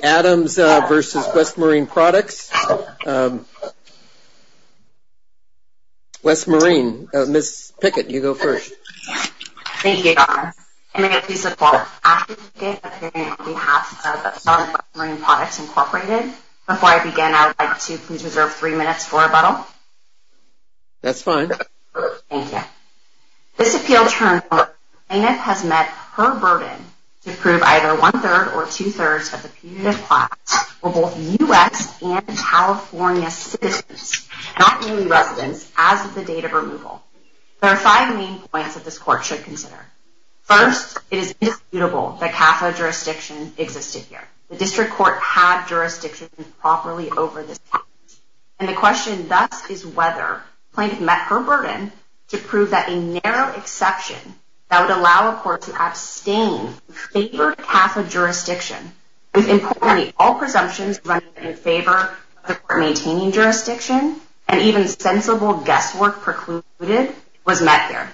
Ms. Pickett, you go first. Thank you, Dr. Adams. I'm going to get a piece of paper from Ashley Pickett, appearing on behalf of West Marine Products, Incorporated. Before I begin, I would like to please reserve three minutes for rebuttal. That's fine. Thank you. This appeal term, plaintiff has met her burden to prove either one-third or two-thirds of the community class were both U.S. and California citizens, not only residents, as of the date of removal. There are five main points that this court should consider. First, it is indisputable that CAFO jurisdiction existed here. The district court had jurisdiction properly over this county. And the question thus is whether plaintiff met her burden to prove that a court that would allow a court to abstain in favor of CAFO jurisdiction, with importantly, all presumptions running in favor of the court maintaining jurisdiction, and even sensible guesswork precluded, was met here.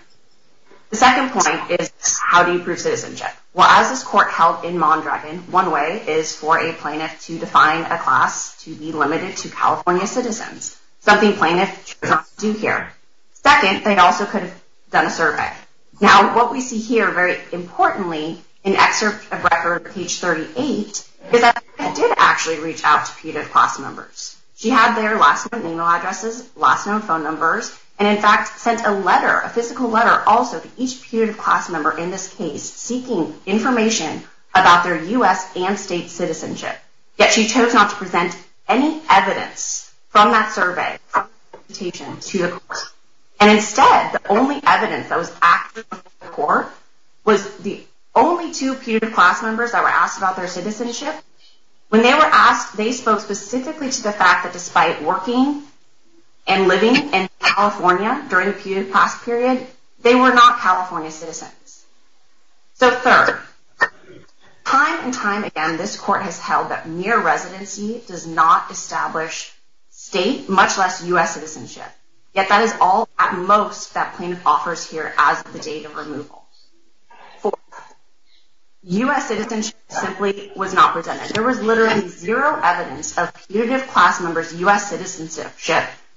The second point is how do you prove citizenship? Well, as this court held in Mondragon, one way is for a plaintiff to define a class to be limited to California citizens, something plaintiff should not do here. Second, they also could have done a survey. Now, what we see here, very importantly, in excerpt of record, page 38, is that the plaintiff did actually reach out to putative class members. She had their last name and email addresses, last known phone numbers, and in fact sent a letter, a physical letter also, to each putative class member in this case, seeking information about their U.S. and state citizenship. Yet she chose not to present any evidence from that survey to the court. And instead, the only evidence that was active in the court was the only two putative class members that were asked about their citizenship. When they were asked, they spoke specifically to the fact that, despite working and living in California during the putative class period, they were not California citizens. So third, time and time again, this court has held that mere residency does not establish state, much less U.S. citizenship. Yet that is all, at most, that plaintiff offers here as the date of removal. Fourth, U.S. citizenship simply was not presented. There was literally zero evidence of putative class members' U.S. citizenship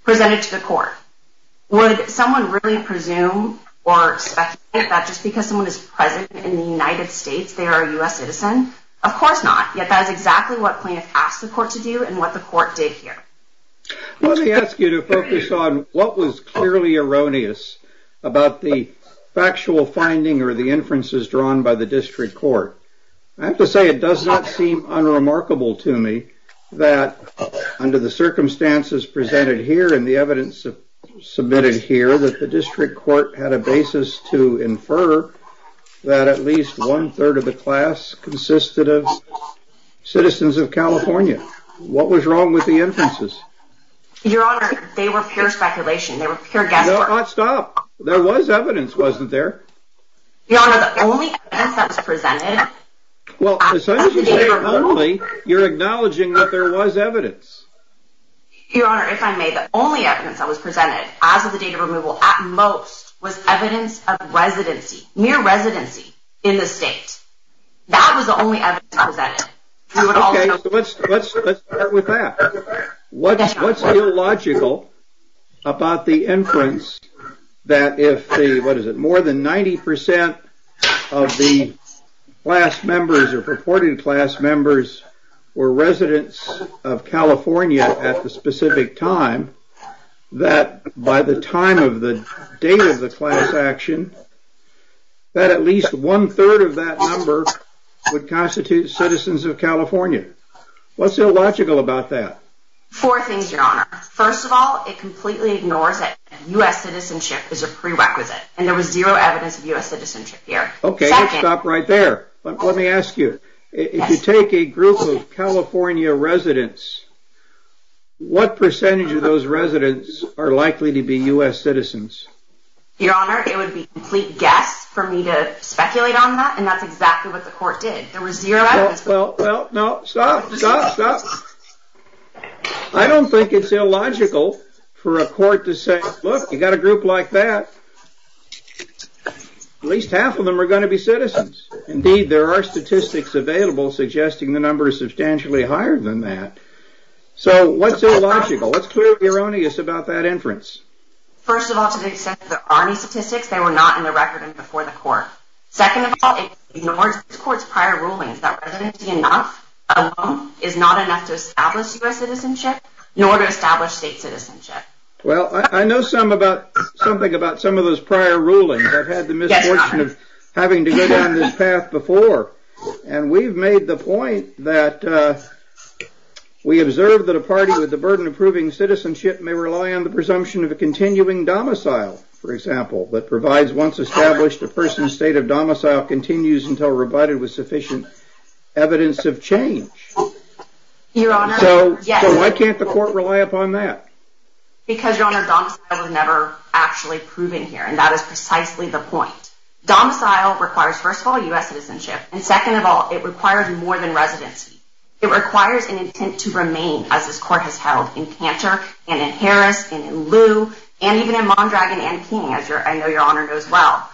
presented to the court. Would someone really presume or speculate that just because someone is present in the United States, they are a U.S. citizen? Of course not, yet that is exactly what plaintiff asked the court to do and what the court did here. Let me ask you to focus on what was clearly erroneous about the factual finding or the inferences drawn by the district court. I have to say it does not seem unremarkable to me that under the circumstances presented here and the evidence submitted here, that the district court had a basis to infer that at least one-third of the class consisted of citizens of California. What was wrong with the inferences? Your Honor, they were pure speculation. They were pure guesswork. No, stop. There was evidence, wasn't there? Your Honor, the only evidence that was presented... Well, as soon as you say only, you're acknowledging that there was evidence. Your Honor, if I may, the only evidence that was presented as of the date of removal, at most, was evidence of residency, mere residency in the state. That was the only evidence presented. Okay, so let's start with that. What's illogical about the inference that if the, what is it, more than 90% of the class members or purported class members were residents of California at the specific time, that by the time of the date of the class action, that at least one-third of that number would constitute citizens of California? What's illogical about that? Four things, Your Honor. First of all, it completely ignores that U.S. citizenship is a prerequisite, and there was zero evidence of U.S. citizenship here. Okay, let's stop right there. Let me ask you, if you take a group of California residents, what percentage of those residents are likely to be U.S. citizens? Your Honor, it would be a complete guess for me to speculate on that, and that's exactly what the court did. There was zero evidence. Well, no, stop, stop, stop. I don't think it's illogical for a court to say, look, you've got a group like that, at least half of them are going to be citizens. Indeed, there are statistics available suggesting the number is substantially higher than that. So what's illogical? What's clearly erroneous about that inference? First of all, to the extent that there are any statistics, they were not in the record and before the court. Second of all, it ignores this court's prior rulings that residency alone is not enough to establish U.S. citizenship, nor to establish state citizenship. Well, I know something about some of those prior rulings. I've had the misfortune of having to go down this path before, and we've made the point that we observe that a party with the burden of proving citizenship may rely on the presumption of a continuing domicile, for example, that provides once established a person's state of domicile continues until provided with sufficient evidence of change. Your Honor, yes. So why can't the court rely upon that? Because, Your Honor, domicile was never actually proven here, and that is precisely the point. Domicile requires, first of all, U.S. citizenship, and second of all, it requires more than residency. It requires an intent to remain, as this court has held in Cantor and in Harris and in Liu and even in Mondragon and King, as I know Your Honor knows well.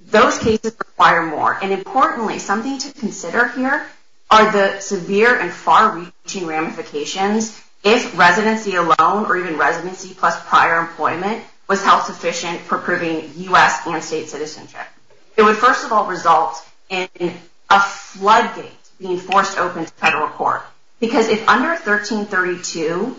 Those cases require more, and importantly, something to consider here are the severe and far-reaching ramifications if residency alone or even residency plus prior employment was held sufficient for proving U.S. and state citizenship. It would, first of all, result in a floodgate being forced open to federal court because if under 1332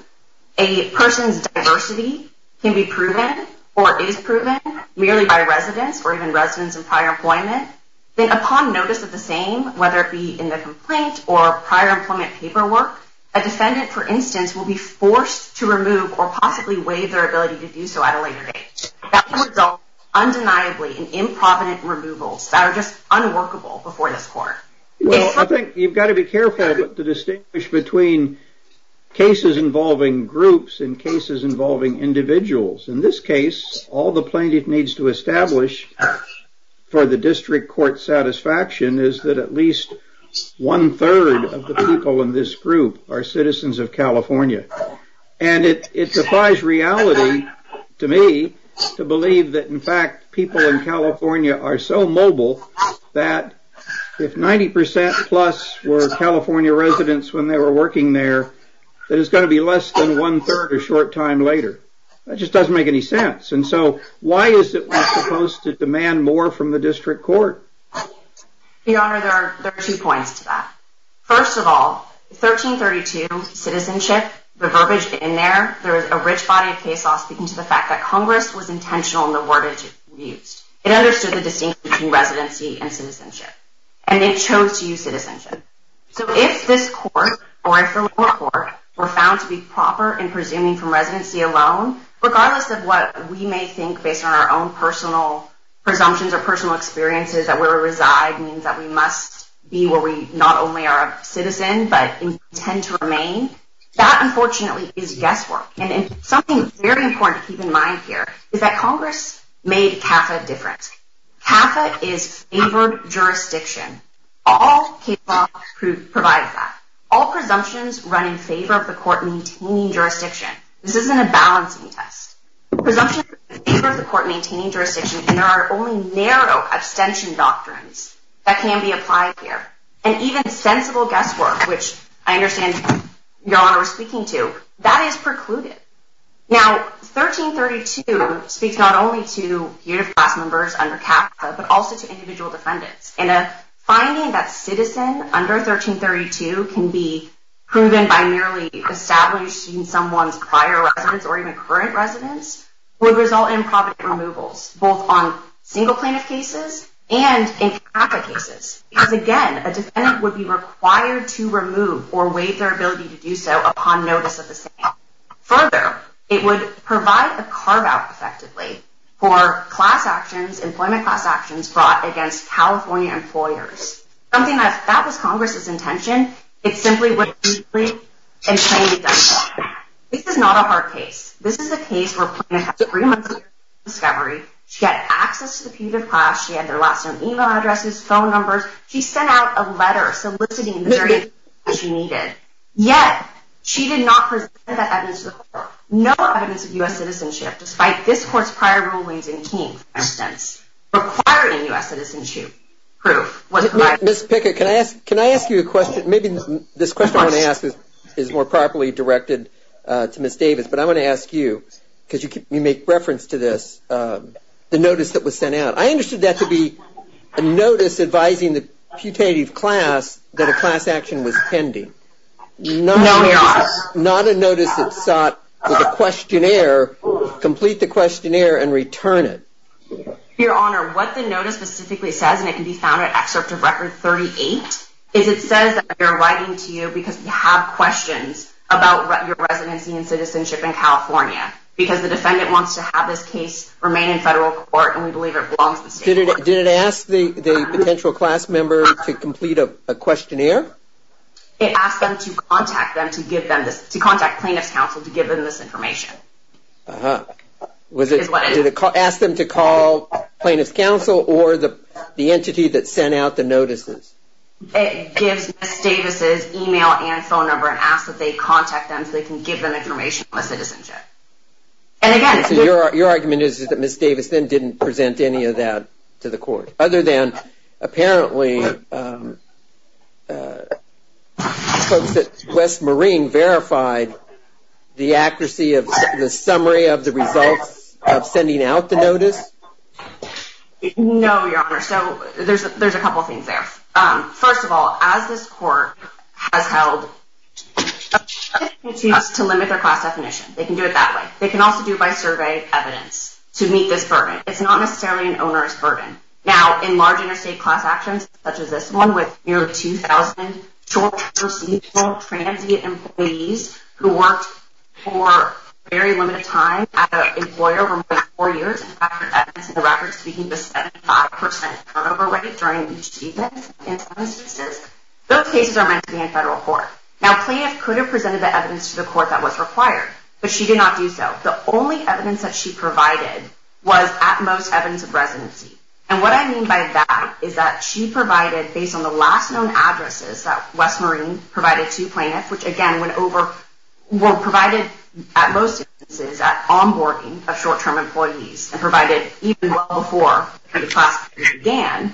a person's diversity can be proven or is proven merely by residence or even residence and prior employment, then upon notice of the same, whether it be in the complaint or prior employment paperwork, a defendant, for instance, will be forced to remove or possibly waive their ability to do so at a later date. That can result undeniably in improvident removals that are just unworkable before this court. Well, I think you've got to be careful to distinguish between cases involving groups and cases involving individuals. In this case, all the plaintiff needs to establish for the district court's satisfaction is that at least one-third of the people in this group are citizens of California. And it's a surprise reality to me to believe that, in fact, people in California are so mobile that if 90% plus were California residents when they were working there, that it's going to be less than one-third a short time later. That just doesn't make any sense. And so why is it we're supposed to demand more from the district court? Your Honor, there are two points to that. First of all, 1332, citizenship, the verbiage in there, there is a rich body of case law speaking to the fact that Congress was intentional in the word it used. It understood the distinction between residency and citizenship. And it chose to use citizenship. So if this court or if the lower court were found to be proper in presuming from residency alone, regardless of what we may think based on our own personal presumptions or personal experiences that where we reside means that we must be where we not only are a citizen but intend to remain, that unfortunately is guesswork. And something very important to keep in mind here is that Congress made CAFA different. CAFA is favored jurisdiction. All case law provides that. All presumptions run in favor of the court maintaining jurisdiction. This isn't a balancing test. Presumptions run in favor of the court maintaining jurisdiction, and there are only narrow abstention doctrines that can be applied here. And even sensible guesswork, which I understand, Your Honor, we're speaking to, that is precluded. Now, 1332 speaks not only to unit of class members under CAFA but also to individual defendants. And a finding that citizen under 1332 can be proven by merely establishing someone's prior residence or even current residence would result in property removals, both on single plaintiff cases and in CAFA cases. Because again, a defendant would be required to remove or waive their ability to do so upon notice of the same. Further, it would provide a carve-out, effectively, for class actions, employment class actions brought against California employers. Something that if that was Congress's intention, it simply wouldn't be complete and can't be done. This is not a hard case. This is a case where a plaintiff had three months of discovery. She had access to the unit of class. She had their last name, email addresses, phone numbers. She sent out a letter soliciting the various things she needed. Yet, she did not present that evidence to the court. No evidence of U.S. citizenship, despite this court's prior rulings in King, for instance, requiring U.S. citizenship proof was provided. Ms. Pickett, can I ask you a question? Maybe this question I want to ask is more properly directed to Ms. Davis, but I want to ask you, because you make reference to this, the notice that was sent out. I understood that to be a notice advising the putative class that a class action was pending. No, Your Honor. Not a notice that sought the questionnaire, complete the questionnaire, and return it. Your Honor, what the notice specifically says, and it can be found in Excerpt of Record 38, is it says that they're writing to you because they have questions about your residency and citizenship in California, because the defendant wants to have this case remain in federal court, and we believe it belongs to the state. Did it ask the potential class member to complete a questionnaire? It asked them to contact plaintiff's counsel to give them this information. Did it ask them to call plaintiff's counsel or the entity that sent out the notices? It gives Ms. Davis' e-mail and phone number and asks that they contact them so they can give them information on citizenship. Your argument is that Ms. Davis then didn't present any of that to the court, other than apparently folks at West Marine verified the accuracy of the summary of the results of sending out the notice? No, Your Honor. So there's a couple of things there. First of all, as this court has held to limit their class definition. They can do it that way. They can also do it by survey evidence to meet this burden. It's not necessarily an onerous burden. Now, in large interstate class actions, such as this one with nearly 2,000 short, foreseeable transient employees who worked for a very limited time as an employer over more than four years and record evidence in the record speaking to 75% turnover rate during each event in some instances, those cases are meant to be in federal court. Now, plaintiff could have presented the evidence to the court that was required, but she did not do so. The only evidence that she provided was at most evidence of residency. And what I mean by that is that she provided, based on the last known addresses that West Marine provided to plaintiffs, which again were provided at most instances at onboarding of short-term employees and provided even well before the class period began.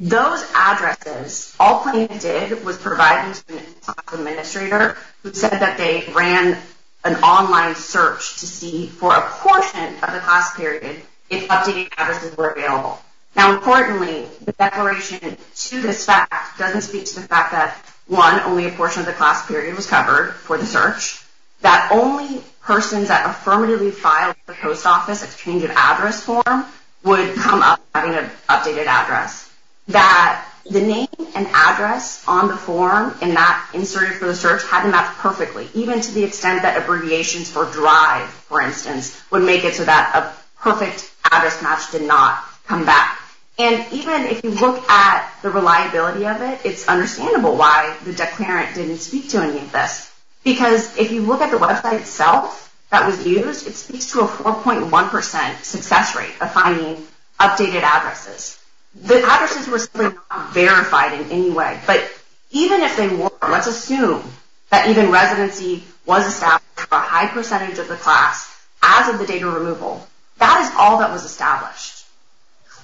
Those addresses, all plaintiffs did was provide them to an administrator who said that they ran an online search to see for a portion of the class period if updated addresses were available. Now, importantly, the declaration to this fact doesn't speak to the fact that, one, only a portion of the class period was covered for the search, that only persons that affirmatively filed for post office exchange of address form would come up having an updated address, that the name and address on the form and that inserted for the search had to match perfectly, even to the extent that abbreviations for drive, for instance, would make it so that a perfect address match did not come back. And even if you look at the reliability of it, it's understandable why the declarant didn't speak to any of this. Because if you look at the website itself that was used, it speaks to a 4.1% success rate of finding updated addresses. The addresses were simply not verified in any way. But even if they were, let's assume that even residency was established for a high percentage of the class as of the date of removal. That is all that was established.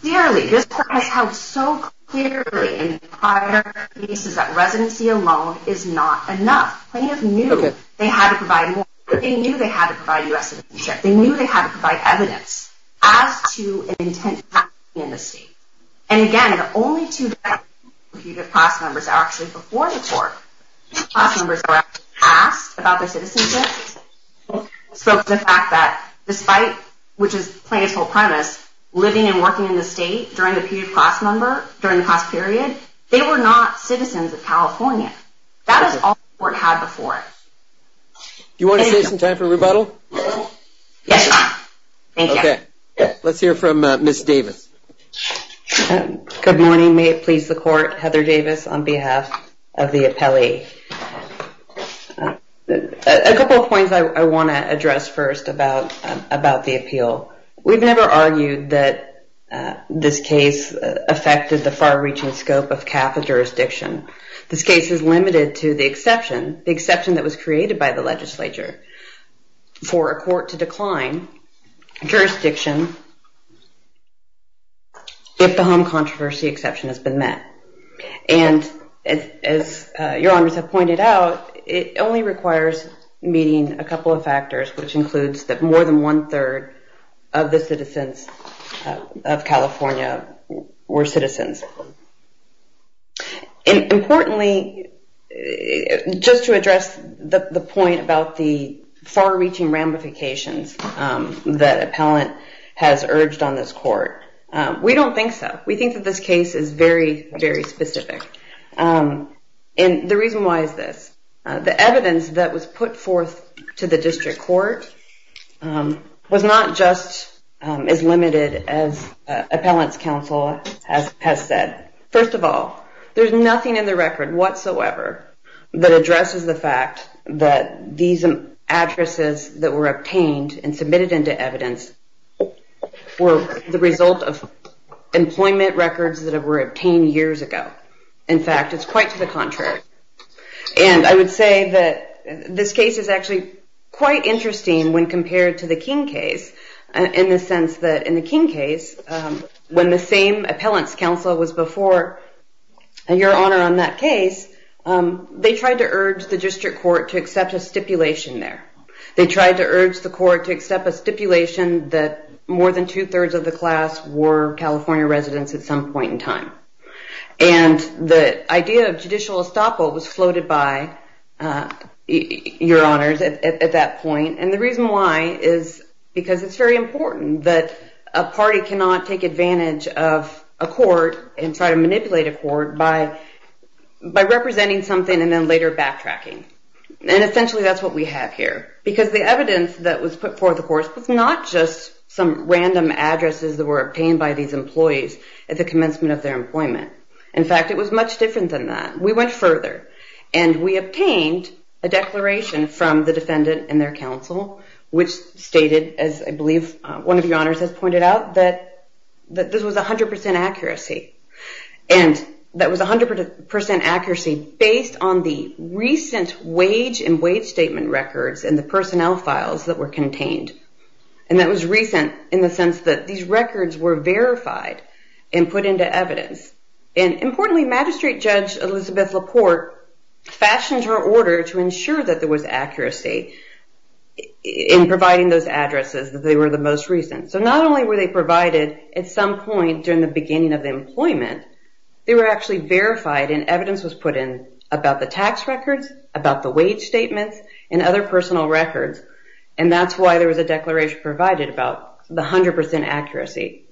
Clearly, this court has held so clearly in prior cases that residency alone is not enough. Plaintiffs knew they had to provide more. They knew they had to provide U.S. citizenship. They knew they had to provide evidence as to an intent to hack in the state. And again, the only two directly computed class members are actually before the court. Class members are asked about their citizenship. So the fact that despite, which is plaintiff's whole premise, living and working in the state during the period of class number, during the class period, they were not citizens of California. That is all the court had before it. Do you want to save some time for rebuttal? Yes. Thank you. Okay. Let's hear from Ms. Davis. Good morning. May it please the court. Heather Davis on behalf of the appellee. A couple of points I want to address first about the appeal. We've never argued that this case affected the far-reaching scope of CAFA jurisdiction. This case is limited to the exception, the exception that was created by the legislature. For a court to decline jurisdiction if the home controversy exception has been met. And as your honors have pointed out, it only requires meeting a couple of factors, which includes that more than one-third of the citizens of California were citizens. And importantly, just to address the point about the far-reaching ramifications that appellant has urged on this court, we don't think so. We think that this case is very, very specific. And the reason why is this. The evidence that was put forth to the district court was not just as limited as appellant's counsel has said. First of all, there's nothing in the record whatsoever that addresses the fact that these addresses that were obtained and submitted into evidence were the result of employment records that were obtained years ago. In fact, it's quite to the contrary. And I would say that this case is actually quite interesting when compared to the King case in the sense that in the King case, when the same appellant's counsel was before your honor on that case, they tried to urge the district court to accept a stipulation there. They tried to urge the court to accept a stipulation that more than two-thirds of the class were California residents at some point in time. And the idea of judicial estoppel was floated by your honors at that point. And the reason why is because it's very important that a party cannot take advantage of a court and try to manipulate a court by representing something and then later backtracking. And essentially, that's what we have here. Because the evidence that was put forth, of course, was not just some random addresses that were obtained by these employees at the commencement of their employment. In fact, it was much different than that. We went further. And we obtained a declaration from the defendant and their counsel, which stated, as I believe one of your honors has pointed out, that this was 100% accuracy. And that was 100% accuracy based on the recent wage and wage statement records and the personnel files that were contained. And that was recent in the sense that these records were verified and put into evidence. And importantly, Magistrate Judge Elizabeth Laporte fashioned her order to ensure that there was accuracy in providing those addresses, that they were the most recent. So not only were they provided at some point during the beginning of employment, they were actually verified and evidence was put in about the tax records, about the wage statements, and other personal records. And that's why there was a declaration provided about the 100% accuracy.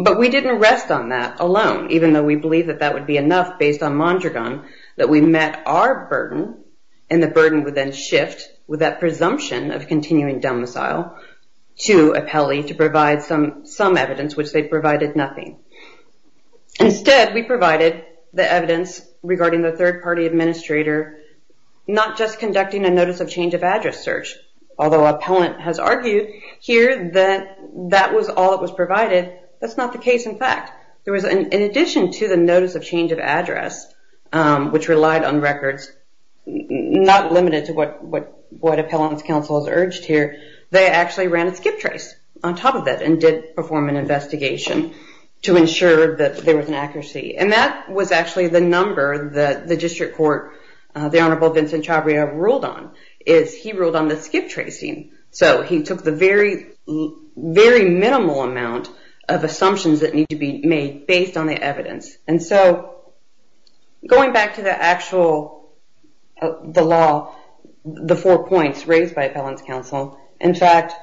But we didn't rest on that alone, even though we believed that that would be enough based on Mondragon, that we met our burden and the burden would then shift with that presumption of continuing domicile to appellee to provide some evidence, which they provided nothing. Instead, we provided the evidence regarding the third party administrator not just conducting a notice of change of address search, although appellant has argued here that that was all that was provided. That's not the case, in fact. In addition to the notice of change of address, which relied on records, not limited to what appellant's counsel has urged here, they actually ran a skip trace on top of that and did perform an investigation to ensure that there was an accuracy. And that was actually the number that the district court, the Honorable Vincent Chabria, ruled on, is he ruled on the skip tracing. So he took the very, very minimal amount of assumptions that need to be made based on the evidence. And so going back to the actual law, the four points raised by appellant's counsel, in fact,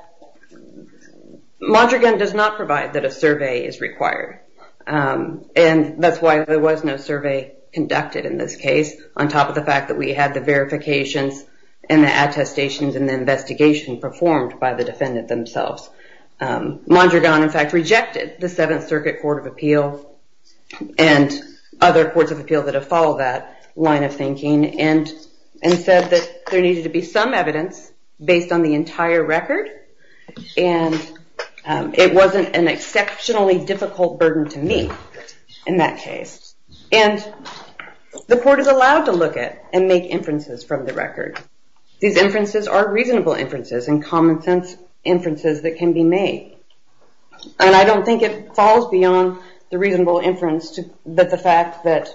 Mondragon does not provide that a survey is required. And that's why there was no survey conducted in this case, on top of the fact that we had the verifications and the attestations and the investigation performed by the defendant themselves. Mondragon, in fact, rejected the Seventh Circuit Court of Appeal and other courts of appeal that have followed that line of thinking and said that there needed to be some evidence based on the entire record, and it wasn't an exceptionally difficult burden to meet in that case. And the court is allowed to look at and make inferences from the record. These inferences are reasonable inferences and common-sense inferences that can be made. And I don't think it falls beyond the reasonable inference that the fact that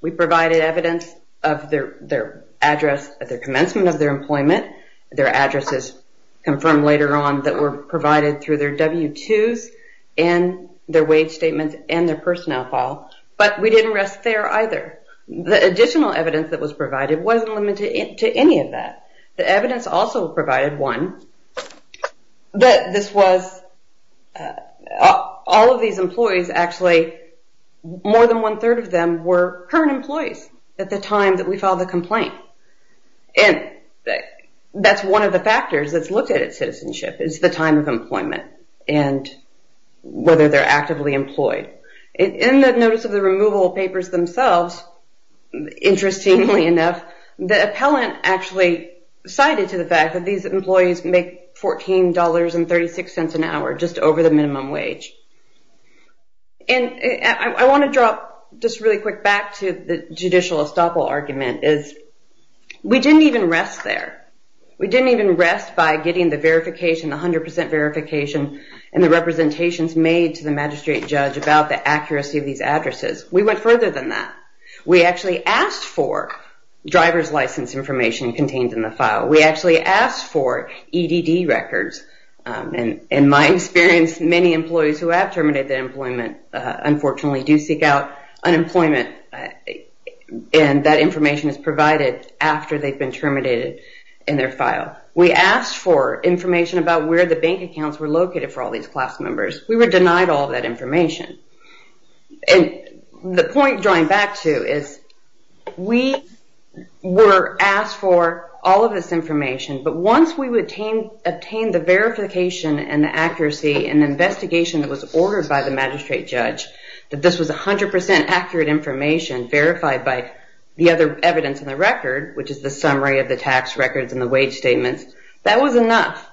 we provided evidence of their address at the commencement of their employment, their addresses confirmed later on that were provided through their W-2s and their wage statements and their personnel file, but we didn't rest there either. The additional evidence that was provided wasn't limited to any of that. The evidence also provided, one, that this was all of these employees, actually more than one-third of them were current employees at the time that we filed the complaint. And that's one of the factors that's looked at at citizenship is the time of employment and whether they're actively employed. In the notice of the removal of papers themselves, interestingly enough, the appellant actually cited to the fact that these employees make $14.36 an hour just over the minimum wage. And I want to drop just really quick back to the judicial estoppel argument is we didn't even rest there. We didn't even rest by getting the verification, the 100% verification and the representations made to the magistrate judge about the accuracy of these addresses. We went further than that. We actually asked for driver's license information contained in the file. We actually asked for EDD records. In my experience, many employees who have terminated their employment unfortunately do seek out unemployment, and that information is provided after they've been terminated in their file. We asked for information about where the bank accounts were located for all these class members. We were denied all that information. And the point drawing back to is we were asked for all of this information, but once we would obtain the verification and the accuracy and the investigation that was ordered by the magistrate judge that this was 100% accurate information verified by the other evidence in the record, which is the summary of the tax records and the wage statements, that was enough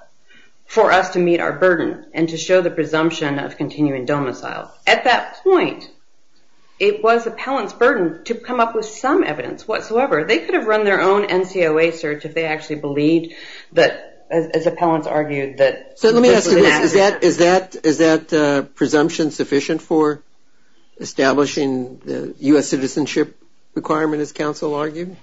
for us to meet our burden and to show the presumption of continuing domicile. At that point, it was appellants' burden to come up with some evidence whatsoever. They could have run their own NCOA search if they actually believed that, as appellants argued, that this was inaccurate. So let me ask you this. Is that presumption sufficient for establishing the U.S. citizenship requirement, as counsel argued?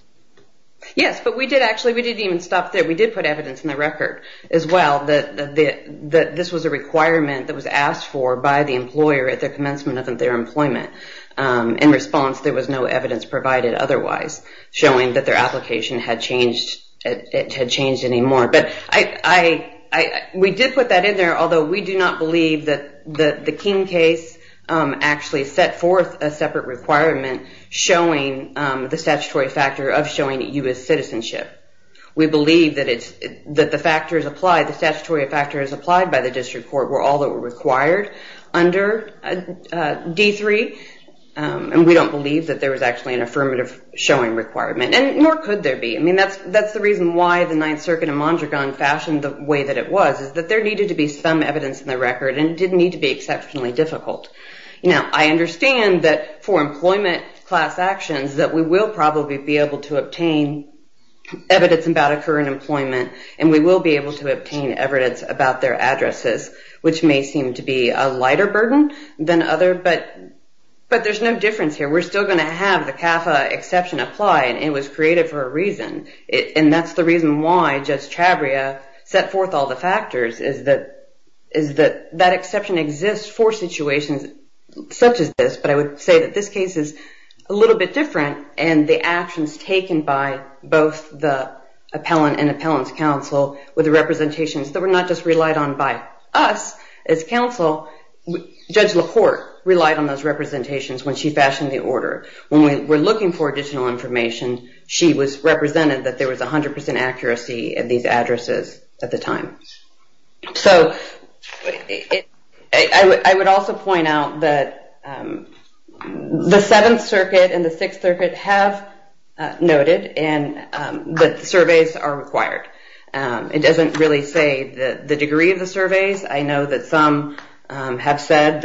Yes, but we did actually, we didn't even stop there. We did put evidence in the record as well that this was a requirement that was asked for by the employer at the commencement of their employment. In response, there was no evidence provided otherwise, showing that their application had changed anymore. But we did put that in there, although we do not believe that the King case actually set forth a separate requirement showing the statutory factor of showing U.S. citizenship. We believe that the statutory factors applied by the district court were all that were required under D3, and we don't believe that there was actually an affirmative showing requirement, and nor could there be. I mean, that's the reason why the Ninth Circuit in Mondragon fashioned the way that it was, is that there needed to be some evidence in the record, and it didn't need to be exceptionally difficult. Now, I understand that for employment class actions, that we will probably be able to obtain evidence about a current employment, and we will be able to obtain evidence about their addresses, which may seem to be a lighter burden than other, but there's no difference here. We're still going to have the CAFA exception apply, and it was created for a reason, and that's the reason why Judge Chabria set forth all the factors, is that that exception exists for situations such as this, but I would say that this case is a little bit different, and the actions taken by both the appellant and appellant's counsel were the representations that were not just relied on by us as counsel. Judge LaPorte relied on those representations when she fashioned the order. When we were looking for additional information, she represented that there was 100% accuracy in these addresses at the time. So I would also point out that the Seventh Circuit and the Sixth Circuit have noted that surveys are required. It doesn't really say the degree of the surveys. I know that some have said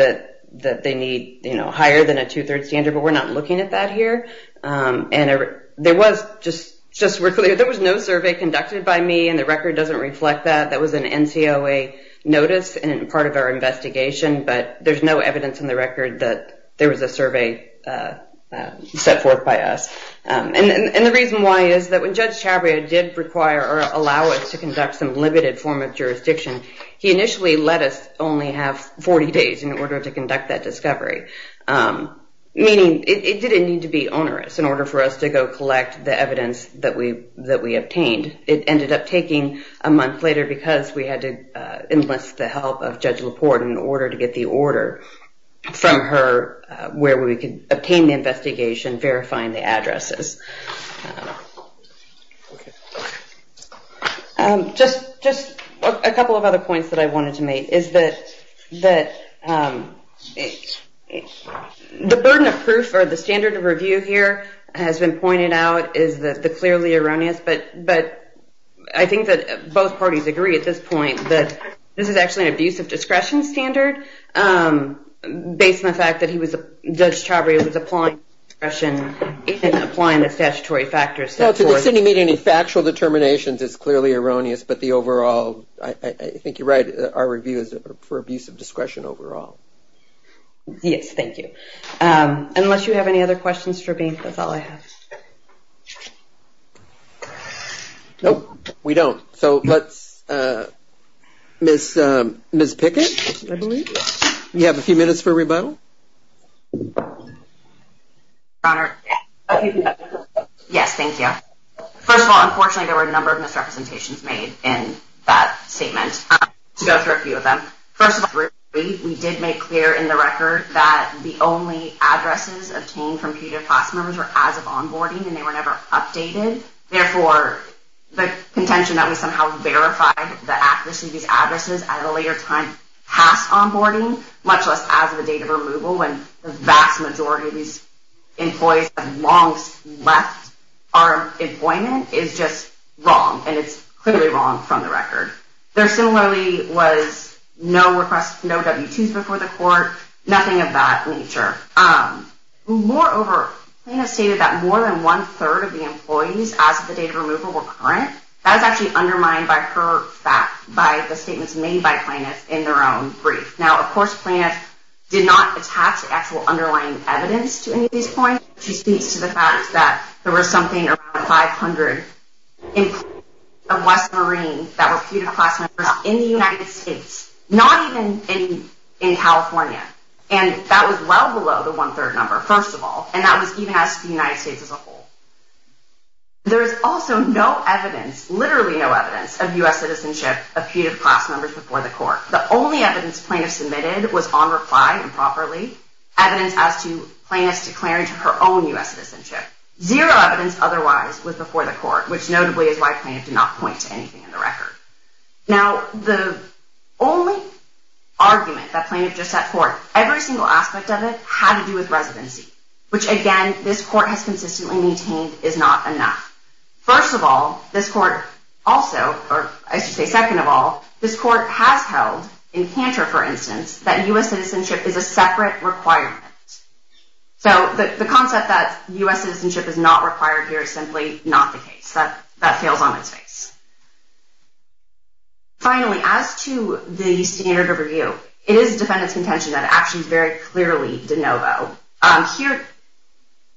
that they need higher than a two-thirds standard, but we're not looking at that here. There was no survey conducted by me, and the record doesn't reflect that. That was an NCOA notice and part of our investigation, but there's no evidence in the record that there was a survey set forth by us. And the reason why is that when Judge Chabria did require or allow us to conduct some limited form of jurisdiction, he initially let us only have 40 days in order to conduct that discovery, meaning it didn't need to be onerous in order for us to go collect the evidence that we obtained. It ended up taking a month later because we had to enlist the help of Judge LaPorte in order to get the order from her where we could obtain the investigation, verifying the addresses. Just a couple of other points that I wanted to make is that the burden of proof or the standard of review here has been pointed out is the clearly erroneous, but I think that both parties agree at this point that this is actually an abuse of discretion standard based on the fact that Judge Chabria was applying discretion and applying the statutory factors. No, to disseny me to any factual determinations is clearly erroneous, but I think you're right. Our review is for abuse of discretion overall. Yes, thank you. Unless you have any other questions for me, that's all I have. No, we don't. So let's Ms. Pickett, you have a few minutes for rebuttal. Your Honor, yes, thank you. First of all, unfortunately there were a number of misrepresentations made in that statement. I'm going to go through a few of them. First of all, we did make clear in the record that the only addresses obtained from peer-to-class members were as of onboarding, and they were never updated. Therefore, the contention that we somehow verified the accuracy of these addresses at a later time past onboarding, much less as of the date of removal when the vast majority of these employees have long left our employment, is just wrong, and it's clearly wrong from the record. There similarly was no requests, no W-2s before the court, nothing of that nature. Moreover, Plaintiff stated that more than one-third of the employees as of the date of removal were current. That was actually undermined by her fact, by the statements made by Plaintiff in their own brief. Now, of course, Plaintiff did not attach the actual underlying evidence to any of these points. She speaks to the fact that there were something around 500 employees of West Marine that were peer-to-class members in the United States, not even in California. And that was well below the one-third number, first of all, and that was even as the United States as a whole. There is also no evidence, literally no evidence, of U.S. citizenship of peer-to-class members before the court. The only evidence Plaintiff submitted was on reply, improperly, evidence as to Plaintiff's declaring to her own U.S. citizenship. Zero evidence otherwise was before the court, which notably is why Plaintiff did not point to anything in the record. Now, the only argument that Plaintiff just set forth, every single aspect of it had to do with residency, which, again, this court has consistently maintained is not enough. First of all, this court also, or I should say second of all, this court has held, in Cantor, for instance, that U.S. citizenship is a separate requirement. So the concept that U.S. citizenship is not required here is simply not the case. That fails on its face. Finally, as to the standard of review, it is defendant's contention that actions very clearly de novo. Here,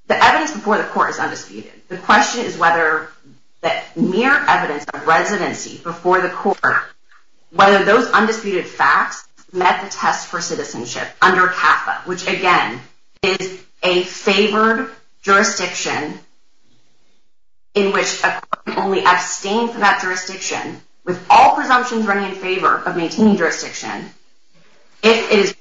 the evidence before the court is undisputed. The question is whether the mere evidence of residency before the court, whether those undisputed facts met the test for citizenship under CAFA, which, again, is a favored jurisdiction in which a court can only abstain from that jurisdiction with all presumptions running in favor of maintaining jurisdiction if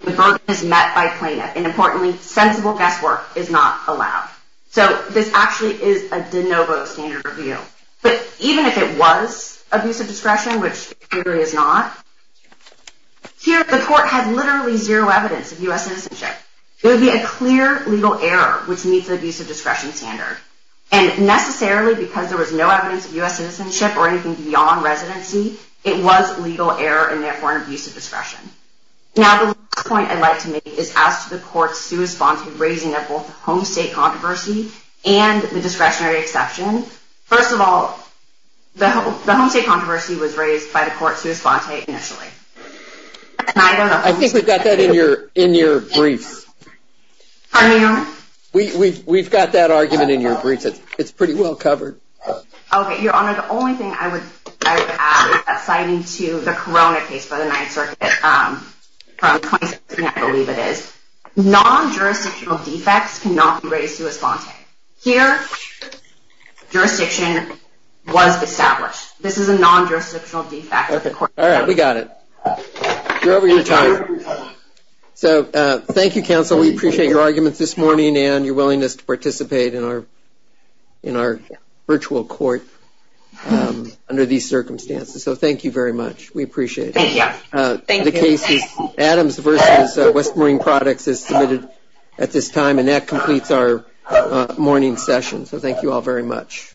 the burden is met by Plaintiff and, importantly, sensible guesswork is not allowed. So this actually is a de novo standard of review. But even if it was abusive discretion, which it clearly is not, here, the court had literally zero evidence of U.S. citizenship. There would be a clear legal error, which meets the abusive discretion standard. And necessarily, because there was no evidence of U.S. citizenship or anything beyond residency, it was legal error and, therefore, an abuse of discretion. Now, the last point I'd like to make is as to the court's sua sponte raising of both the home state controversy and the discretionary exception. First of all, the home state controversy was raised by the court as sua sponte initially. And I don't know... I think we've got that in your brief. Pardon me, Your Honor? We've got that argument in your brief. It's pretty well covered. Okay, Your Honor. The only thing I would add is that citing to the Corona case for the Ninth Circuit from 2016, I believe it is, non-jurisdictional defects cannot be raised sua sponte. Here, jurisdiction was established. This is a non-jurisdictional defect. All right, we got it. You're over your time. So thank you, counsel. We appreciate your arguments this morning and your willingness to participate in our virtual court under these circumstances. So thank you very much. We appreciate it. Thank you. The case is Adams v. West Marine Products is submitted at this time, and that completes our morning session. So thank you all very much.